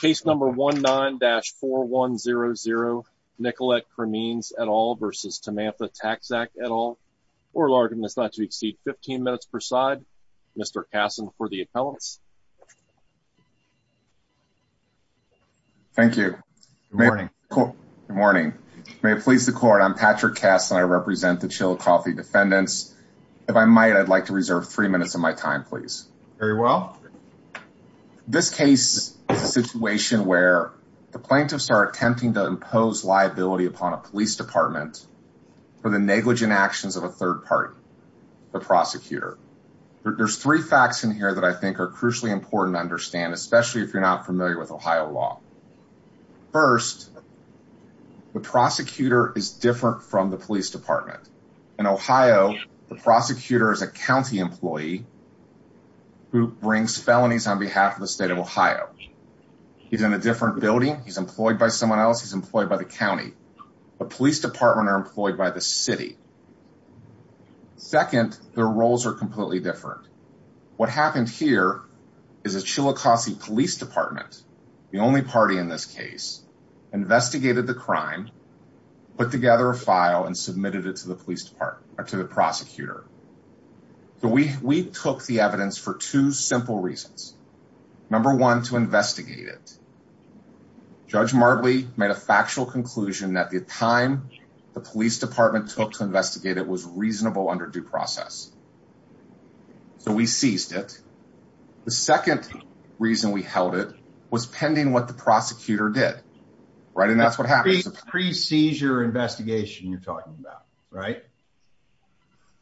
Case number 19-4100 Nicolette Cremeans et al. versus Samantha Taczak et al. Oral argument is not to exceed 15 minutes per side. Mr. Kassin for the appellants. Thank you. Good morning. Good morning. May it please the court, I'm Patrick Kassin. I represent the Chillicothe defendants. If I might, I'd like to reserve three minutes of my time, very well. This case is a situation where the plaintiffs are attempting to impose liability upon a police department for the negligent actions of a third party, the prosecutor. There's three facts in here that I think are crucially important to understand, especially if you're not familiar with Ohio law. First, the prosecutor is different from the who brings felonies on behalf of the state of Ohio. He's in a different building. He's employed by someone else. He's employed by the county. The police department are employed by the city. Second, their roles are completely different. What happened here is the Chillicothe Police Department, the only party in this case, investigated the crime, put together a file, and submitted it to the prosecutor. We took the evidence for two simple reasons. Number one, to investigate it. Judge Martley made a factual conclusion that the time the police department took to investigate it was reasonable under due process. So we seized it. The second reason we held it was pending what the prosecutor did, right? And that's what happened. Pre-seizure investigation you're talking about, right?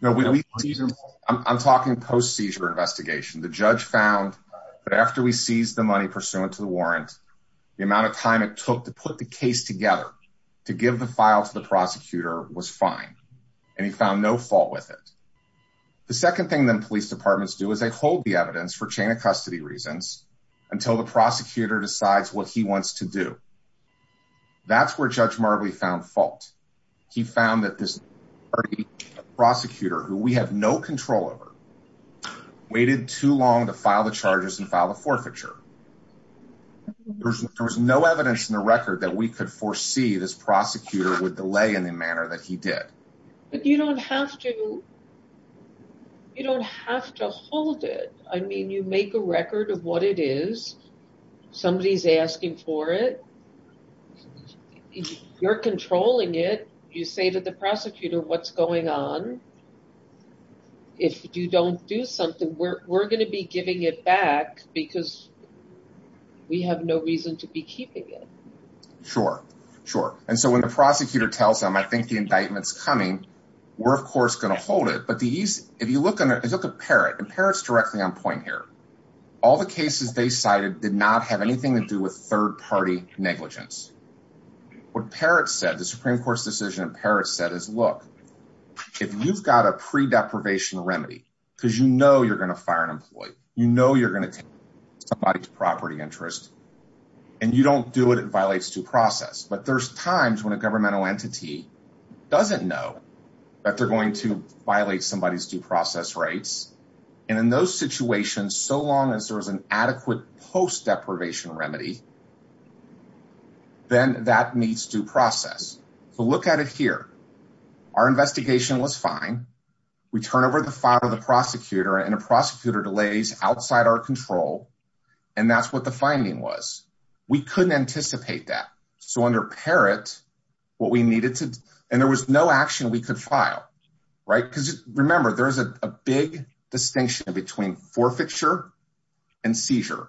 I'm talking post-seizure investigation. The judge found that after we seized the money pursuant to the warrant, the amount of time it took to put the case together to give the file to the prosecutor was fine. And he found no fault with it. The second thing that police departments do is they hold the evidence for chain of custody reasons until the prosecutor decides what he wants to do. That's where Judge Martley found fault. He found that this party prosecutor, who we have no control over, waited too long to file the charges and file the forfeiture. There was no evidence in the record that we could foresee this prosecutor would delay in the manner that he did. But you don't have to hold it. I mean, you make a record of what it is. Somebody's asking for it. You're controlling it. You say to the prosecutor, what's going on? If you don't do something, we're going to be giving it back because we have no reason to be keeping it. Sure. Sure. And so when the prosecutor tells them, I think the indictment's coming, we're of course going to hold it. But if you look at Parrott, and Parrott's directly on did not have anything to do with third-party negligence. What Parrott said, the Supreme Court's decision that Parrott said is, look, if you've got a pre-deprivation remedy, because you know you're going to fire an employee, you know you're going to take somebody's property interest, and you don't do it, it violates due process. But there's times when a governmental entity doesn't know that they're going to violate somebody's due process rights. And in those situations, so long as there's an adequate post-deprivation remedy, then that meets due process. So look at it here. Our investigation was fine. We turn over the file to the prosecutor, and the prosecutor delays outside our control. And that's what the finding was. We couldn't anticipate that. So under Parrott, what we needed to, and there was no action we distinction between forfeiture and seizure.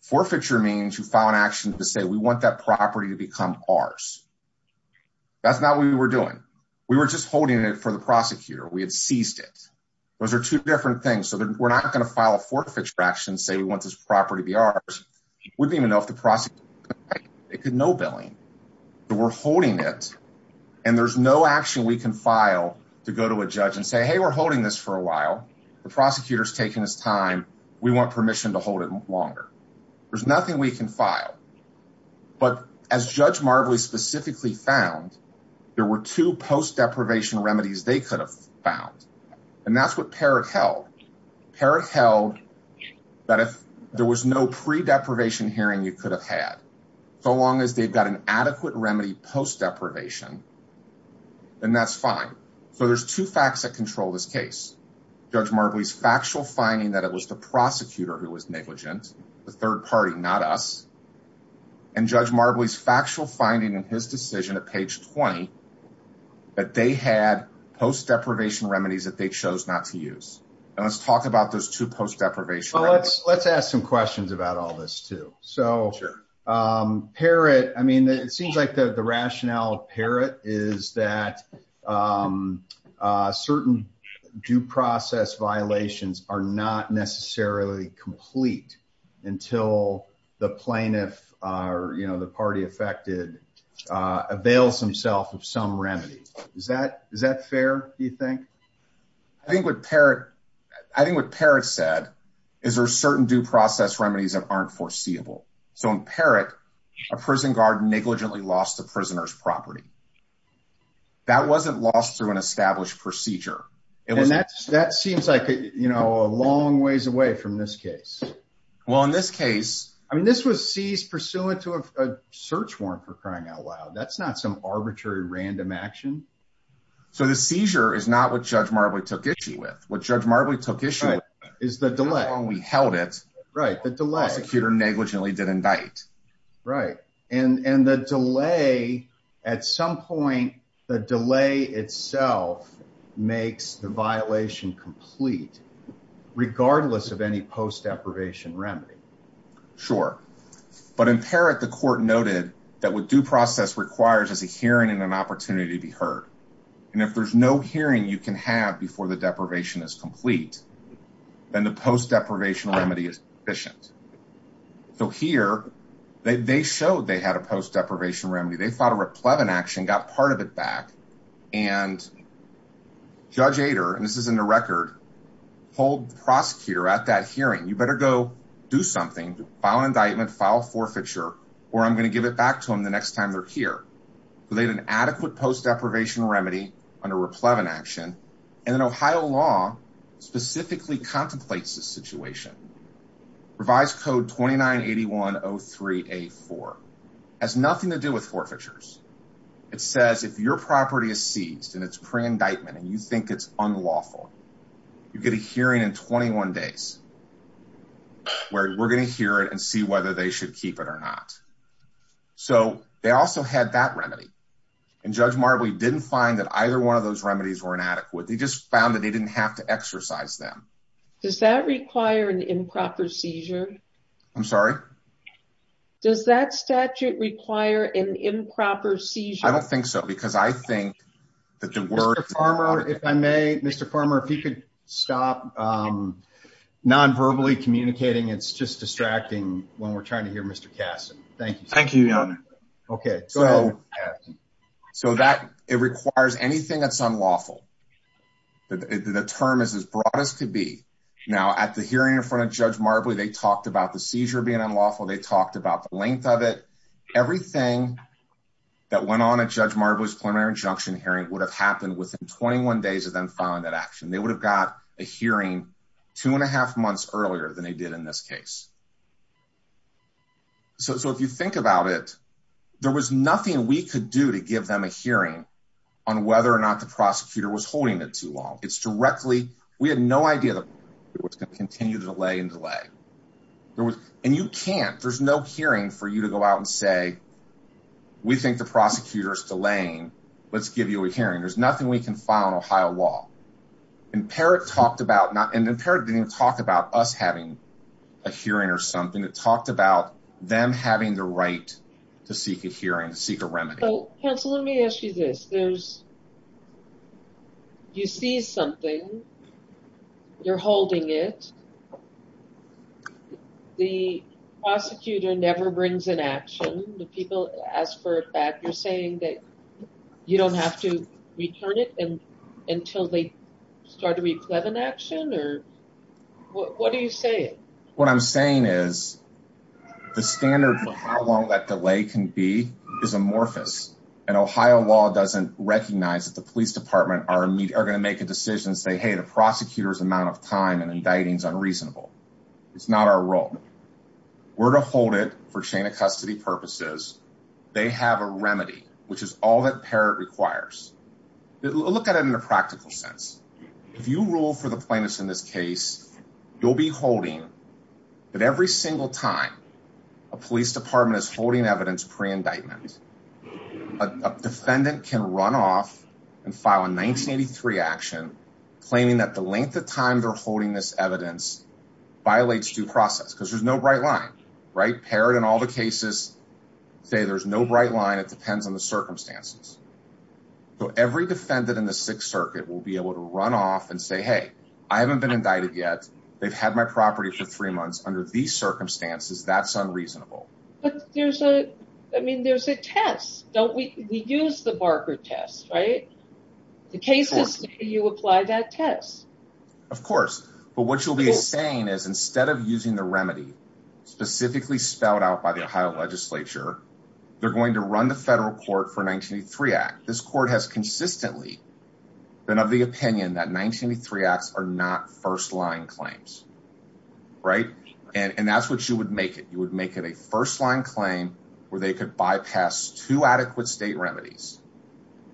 Forfeiture means you file an action to say, we want that property to become ours. That's not what we were doing. We were just holding it for the prosecutor. We had seized it. Those are two different things. So we're not going to file a forfeiture action, say we want this property to be ours. We didn't even know if the prosecutor, they could know billing. We're holding it, and there's no action we can file to go to a judge and say, hey, we're holding this for a while. The prosecutor's taking his time. We want permission to hold it longer. There's nothing we can file. But as Judge Marbley specifically found, there were two post-deprivation remedies they could have found. And that's what Parrott held. Parrott held that if there was no pre-deprivation hearing you could have had, so long as they've an adequate remedy post-deprivation, then that's fine. So there's two facts that control this case. Judge Marbley's factual finding that it was the prosecutor who was negligent, the third party, not us. And Judge Marbley's factual finding in his decision at page 20, that they had post-deprivation remedies that they chose not to use. And let's talk about those two post-deprivation remedies. Let's ask some questions about all this, too. So Parrott, I mean, it seems like the rationale of Parrott is that certain due process violations are not necessarily complete until the plaintiff, or the party affected, avails himself of some remedy. Is that fair, do you think? I think what Parrott said is there are certain due process remedies that aren't foreseeable. So in Parrott, a prison guard negligently lost a prisoner's property. That wasn't lost through an established procedure. And that seems like, you know, a long ways away from this case. Well, in this case... I mean, this was seized pursuant to a search warrant, for crying out loud. That's not some Judge Marbley took issue with. What Judge Marbley took issue with is the delay. How long we held it until the prosecutor negligently did indict. Right. And the delay, at some point, the delay itself makes the violation complete, regardless of any post-deprivation remedy. Sure. But in Parrott, the court noted that what due process requires is a hearing and opportunity to be heard. And if there's no hearing you can have before the deprivation is complete, then the post-deprivation remedy is deficient. So here, they showed they had a post-deprivation remedy. They fought a replevant action, got part of it back. And Judge Ader, and this is in the record, told the prosecutor at that hearing, you better go do something, file indictment, file forfeiture, or I'm going to give it back to them the next time they're here. But they had an adequate post-deprivation remedy under replevant action. And then Ohio law specifically contemplates this situation. Revised code 298103A4 has nothing to do with forfeitures. It says if your property is seized and it's pre-indictment and you think it's unlawful, you get a hearing in 21 days where we're going to hear it and see whether they should keep it or not. So they also had that remedy. And Judge Marbley didn't find that either one of those remedies were inadequate. They just found that they didn't have to exercise them. Does that require an improper seizure? I'm sorry? Does that statute require an improper seizure? I don't think so, because I think that the word... Mr. Farmer, if I may, Mr. Farmer, if you could stop non-verbally communicating. It's just distracting when we're trying to hear Mr. Kassin. Thank you, Your Honor. Okay. So it requires anything that's unlawful. The term is as broad as could be. Now, at the hearing in front of Judge Marbley, they talked about the seizure being unlawful. They talked about the length of it. Everything that went on at Judge Marbley's preliminary injunction hearing would have happened within 21 days of them filing that action. They would have got a hearing two and a half months earlier than they did in this case. So if you think about it, there was nothing we could do to give them a hearing on whether or not the prosecutor was holding it too long. It's directly... We had no idea that it was going to continue to delay and delay. And you can't. There's no hearing for you to go out and say, we think the prosecutor's delaying. Let's give you a hearing. There's nothing we can file in Ohio law. And Parrott talked about not... It talked about them having the right to seek a hearing, to seek a remedy. So, counsel, let me ask you this. You see something. You're holding it. The prosecutor never brings an action. The people ask for it back. You're saying that you don't have to return it until they start to reclaim an action? What are you saying? What I'm saying is the standard for how long that delay can be is amorphous. And Ohio law doesn't recognize that the police department are going to make a decision and say, hey, the prosecutor's amount of time and indicting is unreasonable. It's not our role. We're to hold it for chain of custody purposes. They have a remedy, which is all that Parrott requires. Look at it in a practical sense. If you rule for the plaintiffs in this case, you'll be holding, but every single time a police department is holding evidence pre-indictment, a defendant can run off and file a 1983 action, claiming that the length of time they're holding this evidence violates due process. Because there's no bright line, right? Parrott and all the cases say there's no bright line. It depends on the circumstances. So every defendant in the Sixth Circuit will be able to run off and say, hey, I haven't been indicted yet. They've had my property for three months under these circumstances. That's unreasonable. But there's a, I mean, there's a test. Don't we, we use the Barker test, right? The cases, you apply that test. Of course. But what you'll be saying is instead of using the remedy specifically spelled out by the Ohio legislature, they're going to run the federal court for 1983 act. This court has consistently been of the opinion that 1983 acts are not first line claims. Right? And that's what you would make it. You would make it a first line claim where they could bypass two adequate state remedies.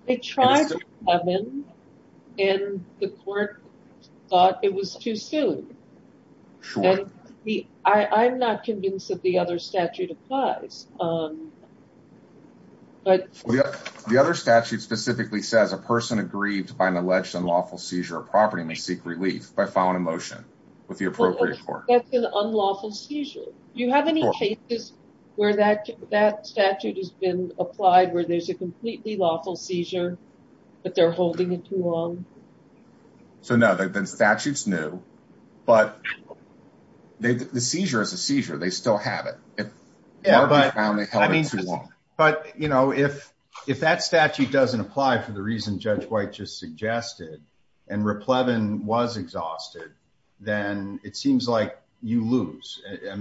They tried to come in and the court thought it was too soon. And I'm not convinced that the other statute applies. But the other statute specifically says a person aggrieved by an alleged unlawful seizure of property may seek relief by filing a motion with the appropriate court. That's an unlawful seizure. Do you have any cases where that statute has been applied, where there's a completely lawful seizure, but they're holding it too long? So no, the statute's new, but the seizure is a seizure. They still have it. Yeah, but I mean, but you know, if, if that statute doesn't apply for the reason Judge White just suggested and Riplevin was exhausted, then it seems like you lose. I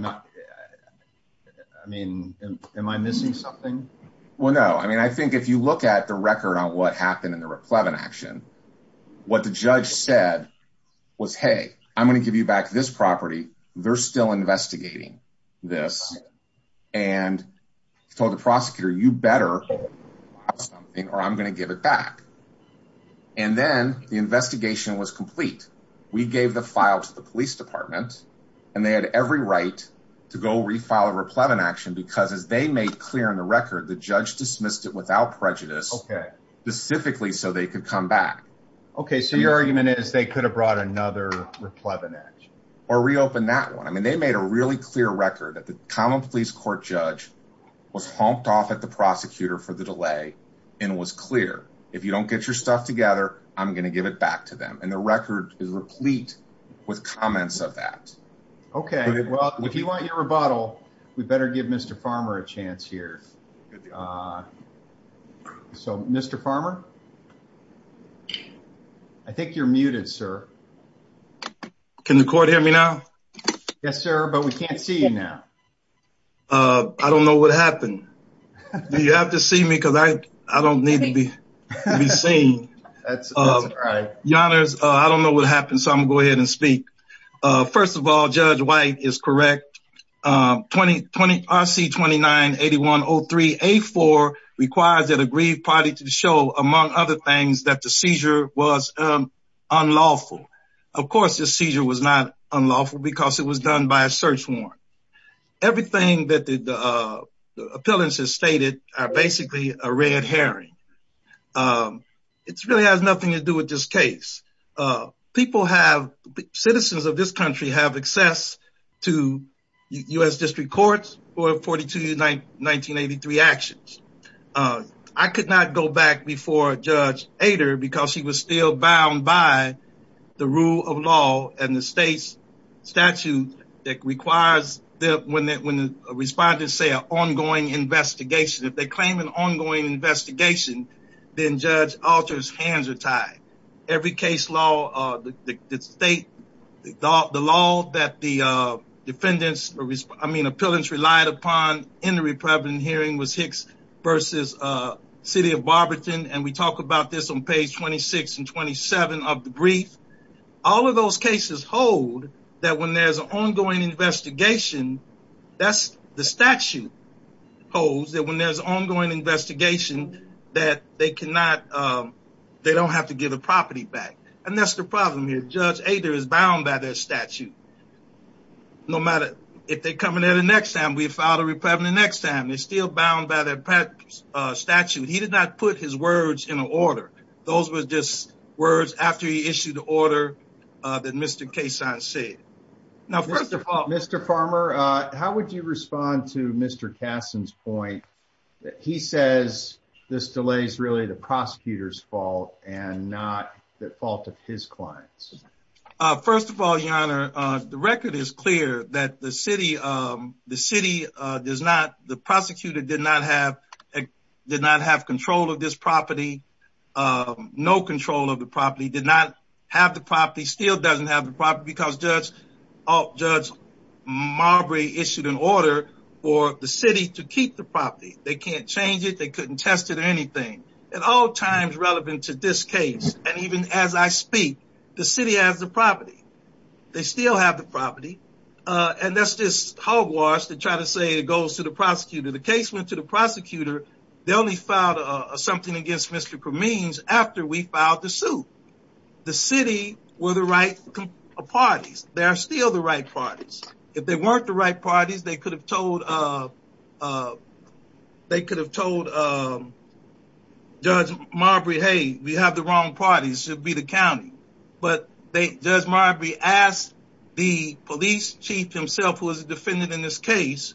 mean, am I missing something? Well, no. I mean, I think if you look at the record on what happened in the Riplevin action, what the judge said was, hey, I'm going to give you back this property. They're still investigating this. And he told the prosecutor, you better have something or I'm going to give it back. And then the investigation was complete. We gave the file to the police department and they had every right to go refile a Riplevin action because as they made clear in the record, the judge dismissed it without prejudice, specifically so they could come back. Okay. So your argument is they could have brought another Riplevin action? Or reopened that one. I mean, they made a really clear record that the common police court judge was honked off at the prosecutor for the delay and was clear. If you don't get your stuff together, I'm going to give it back to them. And the record is replete with comments of that. Okay. Well, if you want your rebuttal, we better give Mr. Farmer a chance here. So Mr. Farmer, I think you're muted, sir. Can the court hear me now? Yes, sir. But we can't see you now. I don't know what happened. You have to see me because I don't need to be seen. That's all right. Your honors, I don't know what happened. So I'm going to go ahead and speak. First of all, Judge White is correct. RC-29-8103-A4 requires that a grieved party to show, among other things, that the seizure was unlawful. Of course, the seizure was not unlawful because it was done by a search warrant. Everything that the appellants have stated are basically a red herring. It really has nothing to do with this case. Citizens of this country have access to U.S. District Courts for 42-1983 actions. I could not go back before Judge Ader because he was still bound by the rule of law and the state's statute that requires that when the respondents say an ongoing investigation, if they claim an ongoing investigation, then Judge Alter's hands are tied. Every case law, the state, the law that the defendants, I mean, appellants relied upon in the Republican hearing was Hicks v. City of Barberton. And we talk about this on page 26 and 27 of the brief. All of those cases hold that when there's an ongoing investigation, that's the statute holds that when there's an ongoing investigation, that they cannot, they don't have to give the property back. And that's the problem here. Judge Ader is bound by their statute. And no matter if they come in there the next time, we file a reprimand the next time, they're still bound by their statute. He did not put his words in order. Those were just words after he issued the order that Mr. Kasson said. Now, first of all, Mr. Farmer, how would you respond to Mr. Kasson's point that he says this delay is really the prosecutor's fault and not the fault of his clients? First of all, Your Honor, the record is clear that the city does not, the prosecutor did not have control of this property. No control of the property, did not have the property, still doesn't have the property because Judge Marbury issued an order for the city to keep the property. They can't change it. They couldn't test it or anything. At all times relevant to this case, and even as I speak, the city has the property. They still have the property. And that's just hogwash to try to say it goes to the prosecutor. The case went to the prosecutor. They only filed something against Mr. Kameens after we filed the suit. The city were the right parties. They are still the right parties. If they weren't the right parties, they could have told Judge Marbury, hey, we have the wrong parties. It'd be the county. But Judge Marbury asked the police chief himself, who is a defendant in this case,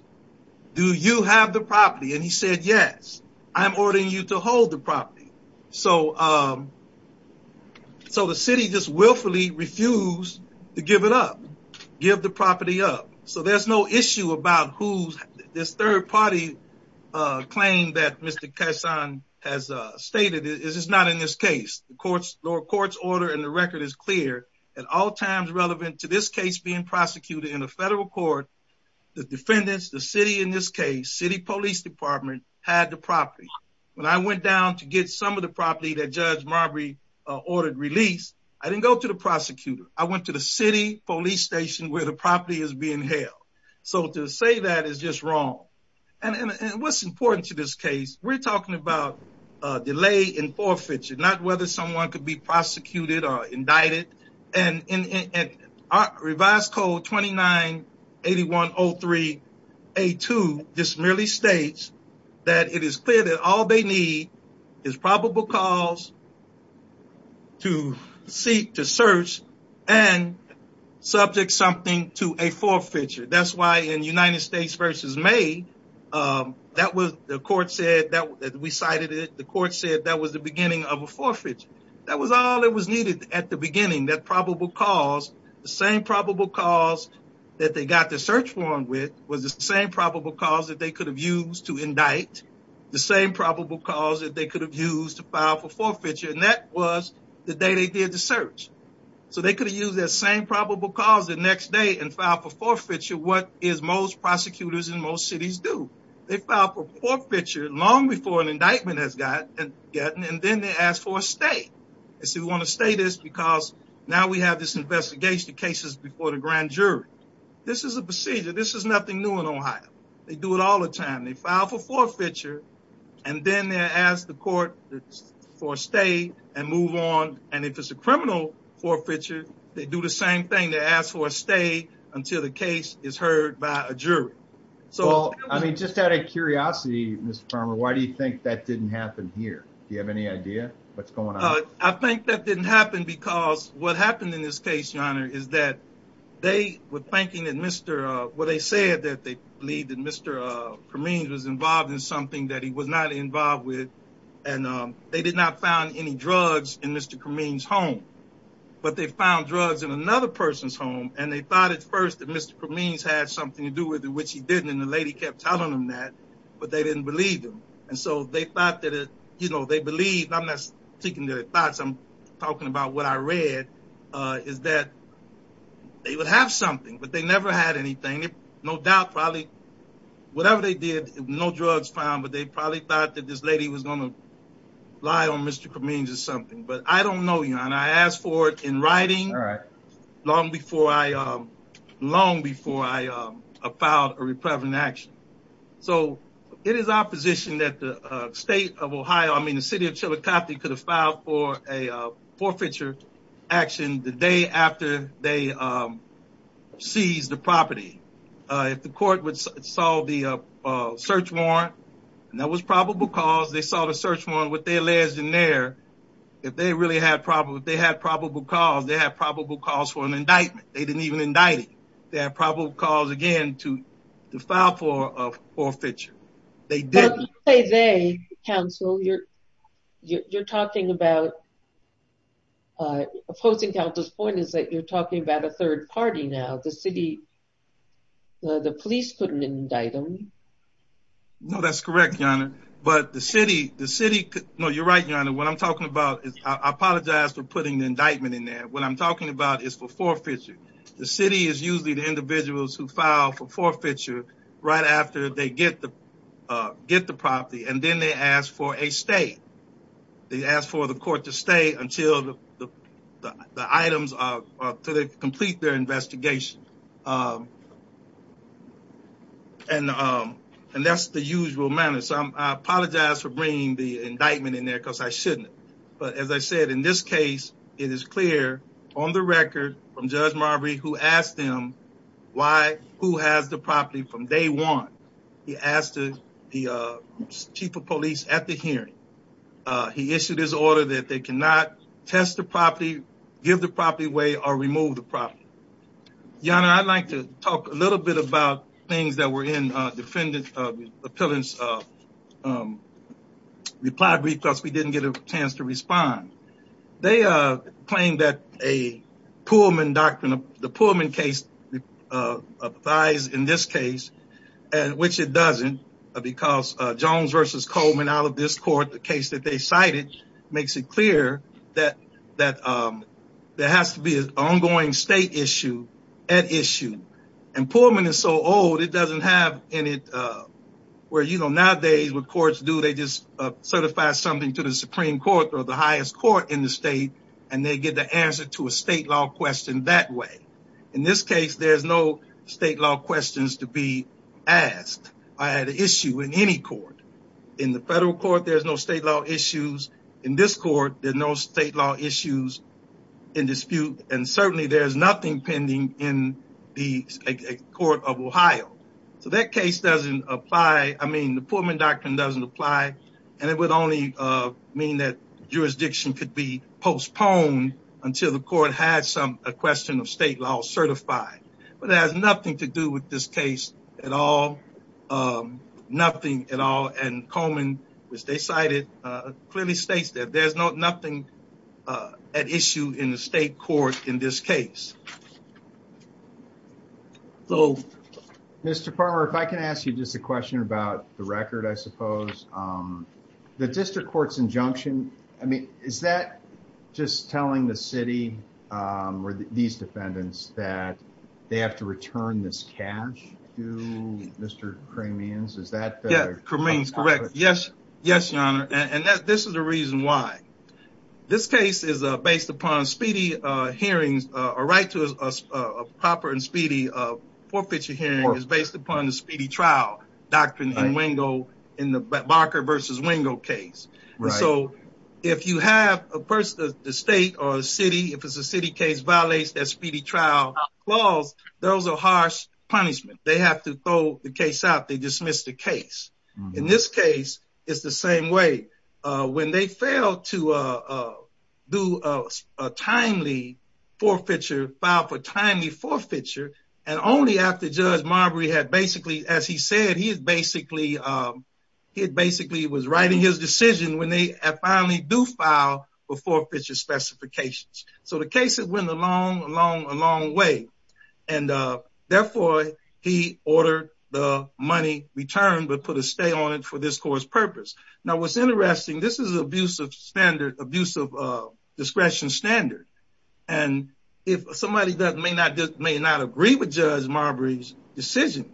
do you have the property? And he said, yes. I'm ordering you to hold the property. So the city just willfully refused to give it up. Give the property up. So there's no issue about who this third party claim that Mr. Kesson has stated is not in this case. The court's order in the record is clear. At all times relevant to this case being prosecuted in a federal court, the defendants, the city in this case, city police department had the property. When I went down to get some of the property that Judge Marbury ordered released, I didn't go to the prosecutor. I went to the city police station where the property is being held. So to say that is just wrong. And what's important to this case, we're talking about delay in forfeiture, not whether someone could be prosecuted or indicted. And in Revised Code 29-8103-A2, this merely states that it is clear that all they need is probable cause to seek, to search, and subject something to a forfeiture. That's why in United States v. May, the court said that we cited it. The court said that was the beginning of a forfeiture. That was all that was needed at the beginning, that probable cause. The same probable cause that they got the search warrant with was the same probable cause that they could have used to indict, the same probable cause that they could have used to file for forfeiture, and that was the day they did the search. So they could have used that same probable cause the next day and filed for forfeiture, what is most prosecutors in most cities do. They file for forfeiture long before an indictment has gotten, and then they ask for a stay. They say, we want to stay this because now we have this investigation of cases before the grand jury. This is a procedure. This is nothing new in Ohio. They do it all the time. They file for forfeiture, and then they ask the court for a stay and move on. And if it's a criminal forfeiture, they do the same thing. They ask for a stay until the case is heard by a jury. So, I mean, just out of curiosity, Mr. Farmer, why do you think that didn't happen here? Do you have any idea what's going on? I think that didn't happen because what happened in this case, your honor, is that they were thinking that Mr. Well, they said that they believe that Mr. Kameens was involved in something that he was not involved with. And they did not find any drugs in Mr. Kameens' home, but they found drugs in another person's home. And they thought at first that Mr. Kameens had something to do with it, which he didn't. And the lady kept telling them that, but they didn't believe them. And so they thought that, you know, they believed. I'm not speaking to their thoughts. I'm talking about what I read, is that they would have something, but they never had anything. No doubt, probably, whatever they did, no drugs found, but they probably thought that this lady was going to lie on Mr. Kameens or something. But I don't know, your honor. I asked for it in writing long before I, long before I filed a repreventive action. So, it is our position that the state of Ohio, I mean, the city of Chillicothe could have filed for a forfeiture action the day after they seized the property. If the court would solve the search warrant, and that was probable cause, they saw the search warrant with their lairs in there. If they really had probable, if they had probable cause, they had probable cause for an indictment. They didn't even indict it. They had probable cause, again, to file for a forfeiture. They didn't. Well, you say they, counsel, you're talking about, opposing counsel's point is that you're talking about a third party now. The city, the police couldn't indict them. No, that's correct, your honor. But the city, the city, no, you're right, your honor. What I'm talking about is, I apologize for putting the indictment in there. What I'm talking about is for forfeiture. The city is usually the individuals who file for forfeiture right after they get the property, and then they ask for a stay. They ask for the court to stay until the items are, until they complete their investigation. And that's the usual manner. So I apologize for bringing the indictment in there, because I shouldn't. But as I said, in this case, it is clear on the record from Judge Marbury, who asked him, why, who has the property from day one. He asked the chief of police at the hearing. He issued his order that they cannot test the property, give the property away, or remove the property. Your honor, I'd like to talk a little bit about things that were in defendant, appellant's reply brief, because we didn't get a chance to respond. They claim that a Pullman doctrine, the Pullman case applies in this case, which it doesn't, because Jones versus Coleman out of this court, the case that they cited, makes it clear that there has to be an ongoing state issue at issue. And Pullman is so old, it doesn't have any, where, you know, nowadays what courts do, they just certify something to the Supreme Court or the highest court in the state, and they get the answer to a state law question that way. In this case, there's no state law questions to be asked. I had an issue in any court. In the federal court, there's no state law issues. In this court, there's no state law issues in dispute. And certainly there's nothing pending in the court of Ohio. So that case doesn't apply. I mean, the Pullman doctrine doesn't apply, and it would only mean that jurisdiction could be postponed until the court had a question of state law certified. But it has nothing to do with this case at all, nothing at all. And Coleman, which they cited, clearly states that there's nothing at issue in the state court in this case. So, Mr. Palmer, if I can ask you just a question about the record, I suppose. The district court's injunction, I mean, is that just telling the city, or these defendants, that they have to return this cash to Mr. Cremains? Is that the... Yeah, Cremains, correct. Yes. Yes, your honor. And this is the reason why. This case is based upon speedy hearings, a right to a proper and speedy forfeiture hearing is based upon the speedy trial doctrine in Wingo, in the Barker versus Wingo case. So if you have a person, the state or the city, if it's a city case violates that speedy trial clause, those are harsh punishment. They have to throw the case out. They dismiss the case. In this case, it's the same way. When they failed to do a timely forfeiture, file for timely forfeiture, and only after Judge Marbury had basically, as he said, he basically was writing his decision when they finally do file for forfeiture specifications. So the case went a long, long, long way. And therefore, he ordered the money returned, but put a stay on it for this court's purpose. Now, what's interesting, this is abuse of standard, abuse of discretion standard. And if somebody may not agree with Judge Marbury's decision,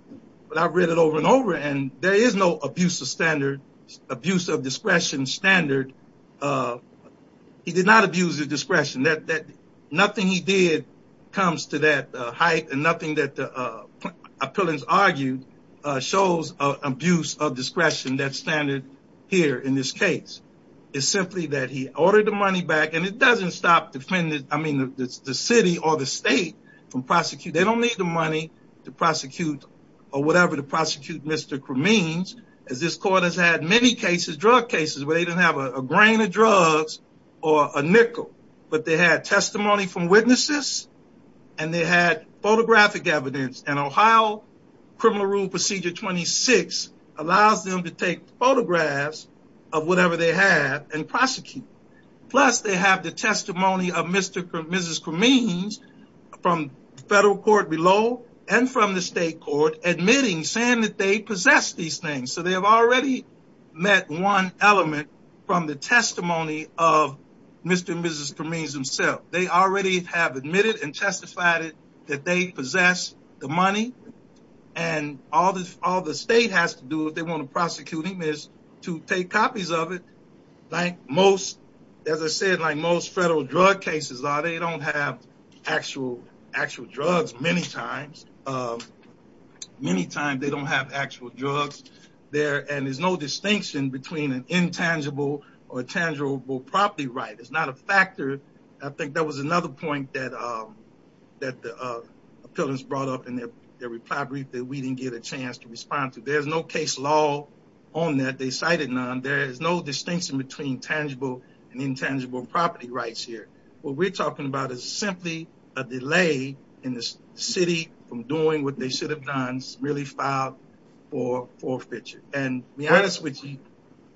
but I've read it over and over, and there is no abuse of standard, abuse of discretion standard. He did not abuse of discretion. Nothing he did comes to that height, and nothing that the appellants argued shows abuse of discretion, that standard here in this case. It's simply that he ordered the money back. And it doesn't stop defendants, I mean, the city or the state from prosecuting. They don't need the money to prosecute or whatever to prosecute Mr. Cremins, as this court has had many cases, drug cases, where they didn't have a grain of drugs or a testimony from witnesses, and they had photographic evidence. And Ohio Criminal Rule Procedure 26 allows them to take photographs of whatever they have and prosecute. Plus, they have the testimony of Mr. or Mrs. Cremins from federal court below, and from the state court admitting, saying that they possess these things. So they have already met one element from the testimony of Mr. and Mrs. Cremins themselves. They already have admitted and testified that they possess the money, and all the state has to do if they want to prosecute him is to take copies of it, like most, as I said, like most federal drug cases are, they don't have actual drugs many times. Many times they don't have actual drugs there, and there's no distinction between an intangible or tangible property right. It's not a factor. I think that was another point that the appellants brought up in their reply brief that we didn't get a chance to respond to. There's no case law on that. They cited none. There is no distinction between tangible and intangible property rights here. What we're talking about is simply a delay in the city from doing what they should have done, merely filed for forfeiture, and to be honest with you.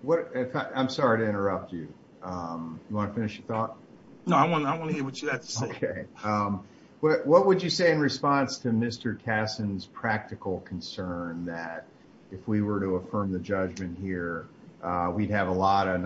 What, I'm sorry to interrupt you. You want to finish your thought? No, I want to hear what you have to say. Okay. What would you say in response to Mr. Kasson's practical concern that if we were to affirm the judgment here, we'd have a lot of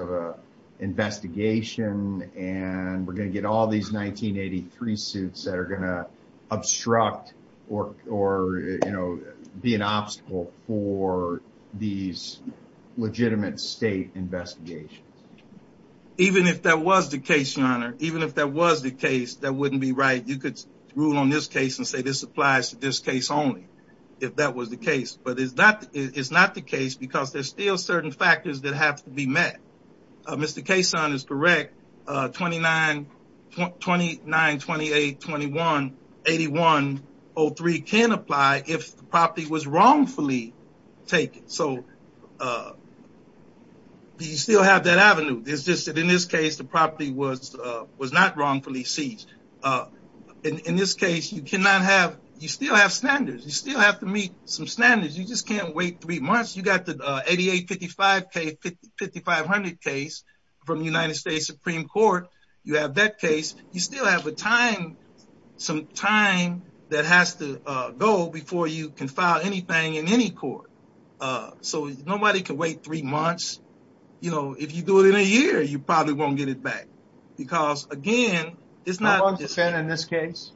of an investigation, and we're going to get all these 1983 suits that are going to obstruct or be an obstacle for these legitimate state investigations? Even if that was the case, your honor, even if that was the case, that wouldn't be right. You could rule on this case and say this applies to this case only, if that was the case. But it's not the case because there's still certain factors that have to be met. Mr. Kasson is correct. 2928-21-8103 can apply if the property was wrongfully taken. So you still have that avenue. It's just that in this case, the property was not wrongfully seized. In this case, you still have standards. You still wait three months. You got the 8855 case, 5500 case from the United States Supreme Court. You have that case. You still have some time that has to go before you can file anything in any court. So nobody can wait three months. If you do it in a year, you probably won't get it back. Because again, it's not... How long has it been in this case?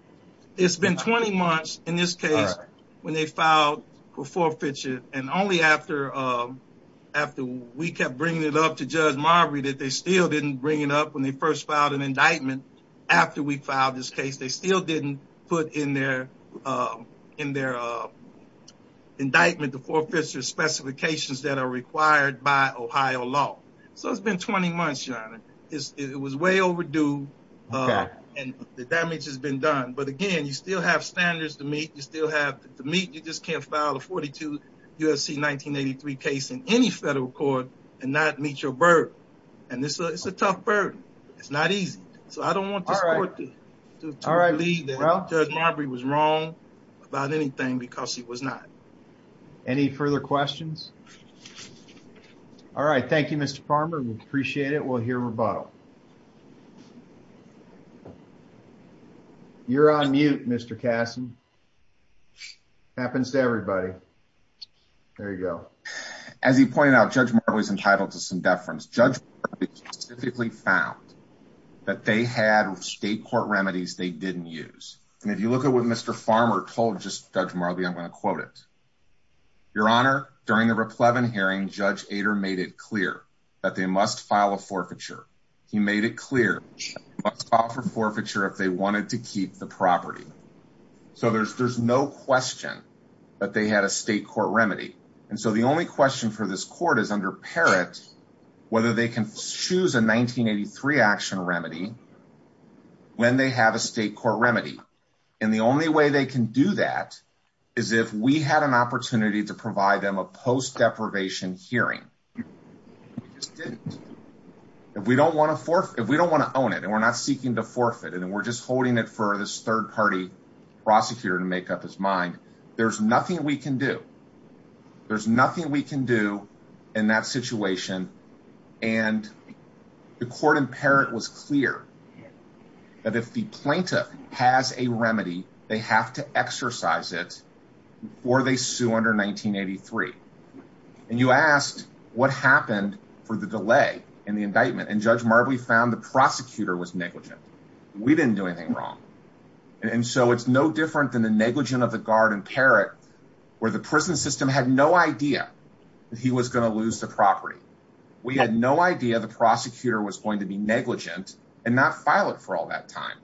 It's been 20 months in this case when they filed for forfeiture. And only after we kept bringing it up to Judge Marbury that they still didn't bring it up when they first filed an indictment. After we filed this case, they still didn't put in their indictment the forfeiture specifications that are required by Ohio law. So it's been 20 months, your honor. It was way overdue and the damage has been done. But again, you still have standards to meet. You still have to meet. You just can't file a 42 U.S.C. 1983 case in any federal court and not meet your burden. And it's a tough burden. It's not easy. So I don't want the court to believe that Judge Marbury was wrong about anything because he was not. Any further questions? All right. Thank you, Mr. Farmer. We appreciate it. We'll hear rebuttal. You're on mute, Mr. Kasson. Happens to everybody. There you go. As he pointed out, Judge Marbury is entitled to some deference. Judge Marbury specifically found that they had state court remedies they didn't use. And if you look at what Mr. Farmer told Judge Marbury, I'm going to quote it. Your honor, during the Raplevin hearing, Judge Ader made it clear that they must file a forfeiture. He made it clear they must offer forfeiture if they wanted to keep the property. So there's no question that they had a state court remedy. And so the only question for this court is under Parrott whether they can choose a 1983 action remedy when they have a state court remedy. And the only way they can do that is if we had an we just didn't. If we don't want to own it and we're not seeking to forfeit and we're just holding it for this third party prosecutor to make up his mind, there's nothing we can do. There's nothing we can do in that situation. And the court in Parrott was clear that if the plaintiff has a remedy, they have to exercise it before they sue under 1983. And you asked what happened for the delay in the indictment and Judge Marbury found the prosecutor was negligent. We didn't do anything wrong. And so it's no different than the negligent of the guard in Parrott where the prison system had no idea that he was going to lose the property. We had no idea the prosecutor was going to be negligent and not file it for all that time.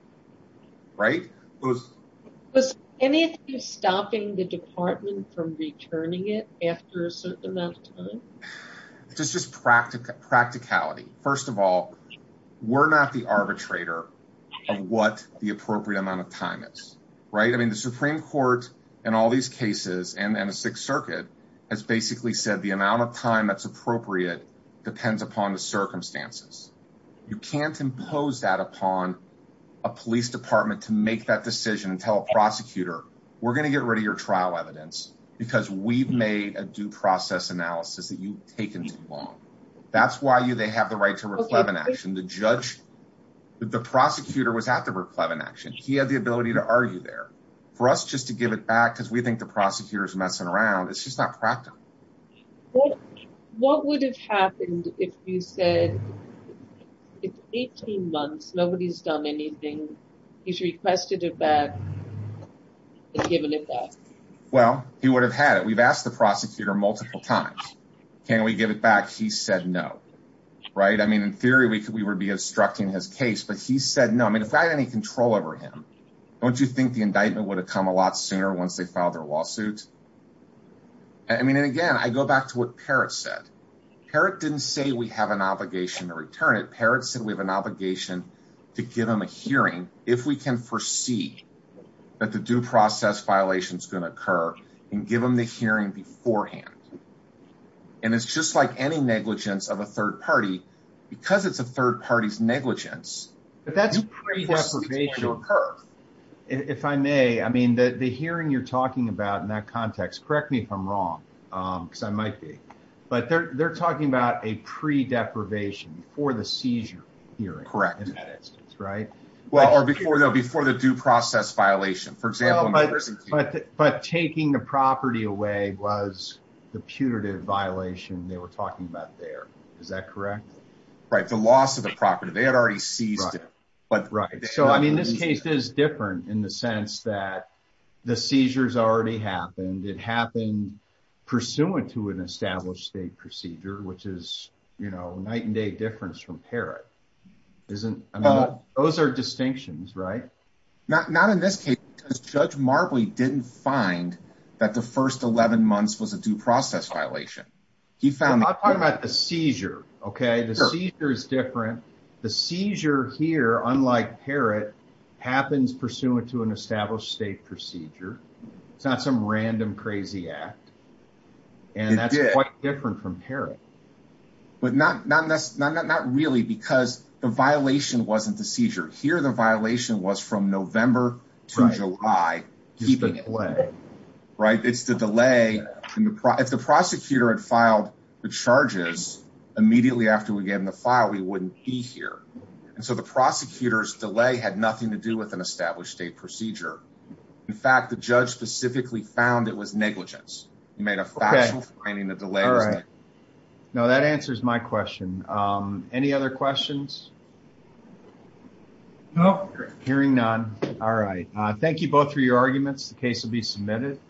Right. Was any of you stopping the department from returning it after a certain amount of time? Just practicality. First of all, we're not the arbitrator of what the appropriate amount of time is. Right. I mean, the Supreme Court in all these cases and the Sixth Circuit has basically said the amount of time that's appropriate depends upon the circumstances. You can't impose that upon a police department to make that decision and tell a prosecutor, we're going to get rid of your trial evidence because we've made a due process analysis that you've taken too long. That's why they have the right to reclaim an action. The judge, the prosecutor was at the reclaimed action. He had the ability to argue there for us just to give it back because we think the prosecutor is messing around. It's just not it's 18 months. Nobody's done anything. He's requested it back and given it back. Well, he would have had it. We've asked the prosecutor multiple times. Can we give it back? He said no. Right. I mean, in theory, we would be obstructing his case, but he said no. I mean, if I had any control over him, don't you think the indictment would have come a lot sooner once they filed their lawsuit? I mean, and again, I go back to what Parrott said. Parrott didn't say we have an obligation to return it. Parrott said we have an obligation to give him a hearing if we can foresee that the due process violation is going to occur and give him the hearing beforehand. And it's just like any negligence of a third party, because it's a third party's negligence. But that's pre-determination. If I may, I mean, the hearing you're talking about in that context, correct me if I'm wrong, because I might be, but they're talking about a pre-deprivation before the seizure hearing. Correct. In that instance, right? Well, or before the due process violation, for example. But taking the property away was the putative violation they were talking about there. Is that correct? Right. The loss of the property. They had already seized it. But right. So, I mean, this case is different in the sense that the seizures already happened. It happened pursuant to an established state procedure, which is, you know, night and day difference from Parrott. Those are distinctions, right? Not in this case, because Judge Marbley didn't find that the first 11 months was a due process violation. I'm talking about the seizure. Okay. The seizure is different. The seizure here, unlike Parrott, happens pursuant to an established state procedure. It's not some random crazy act. It did. And that's quite different from Parrott. But not really, because the violation wasn't the seizure. Here, the violation was from November to July, keeping it. Right. It's the delay. If the prosecutor had filed the charges immediately after we gave them the file, we wouldn't be here. And so the prosecutor's delay had nothing to do with an established state procedure. In fact, the judge specifically found it was negligence. He made a factual finding the delay. All right. Now, that answers my question. Any other questions? No. Hearing none. All right. Thank you both for your arguments. The case will be submitted.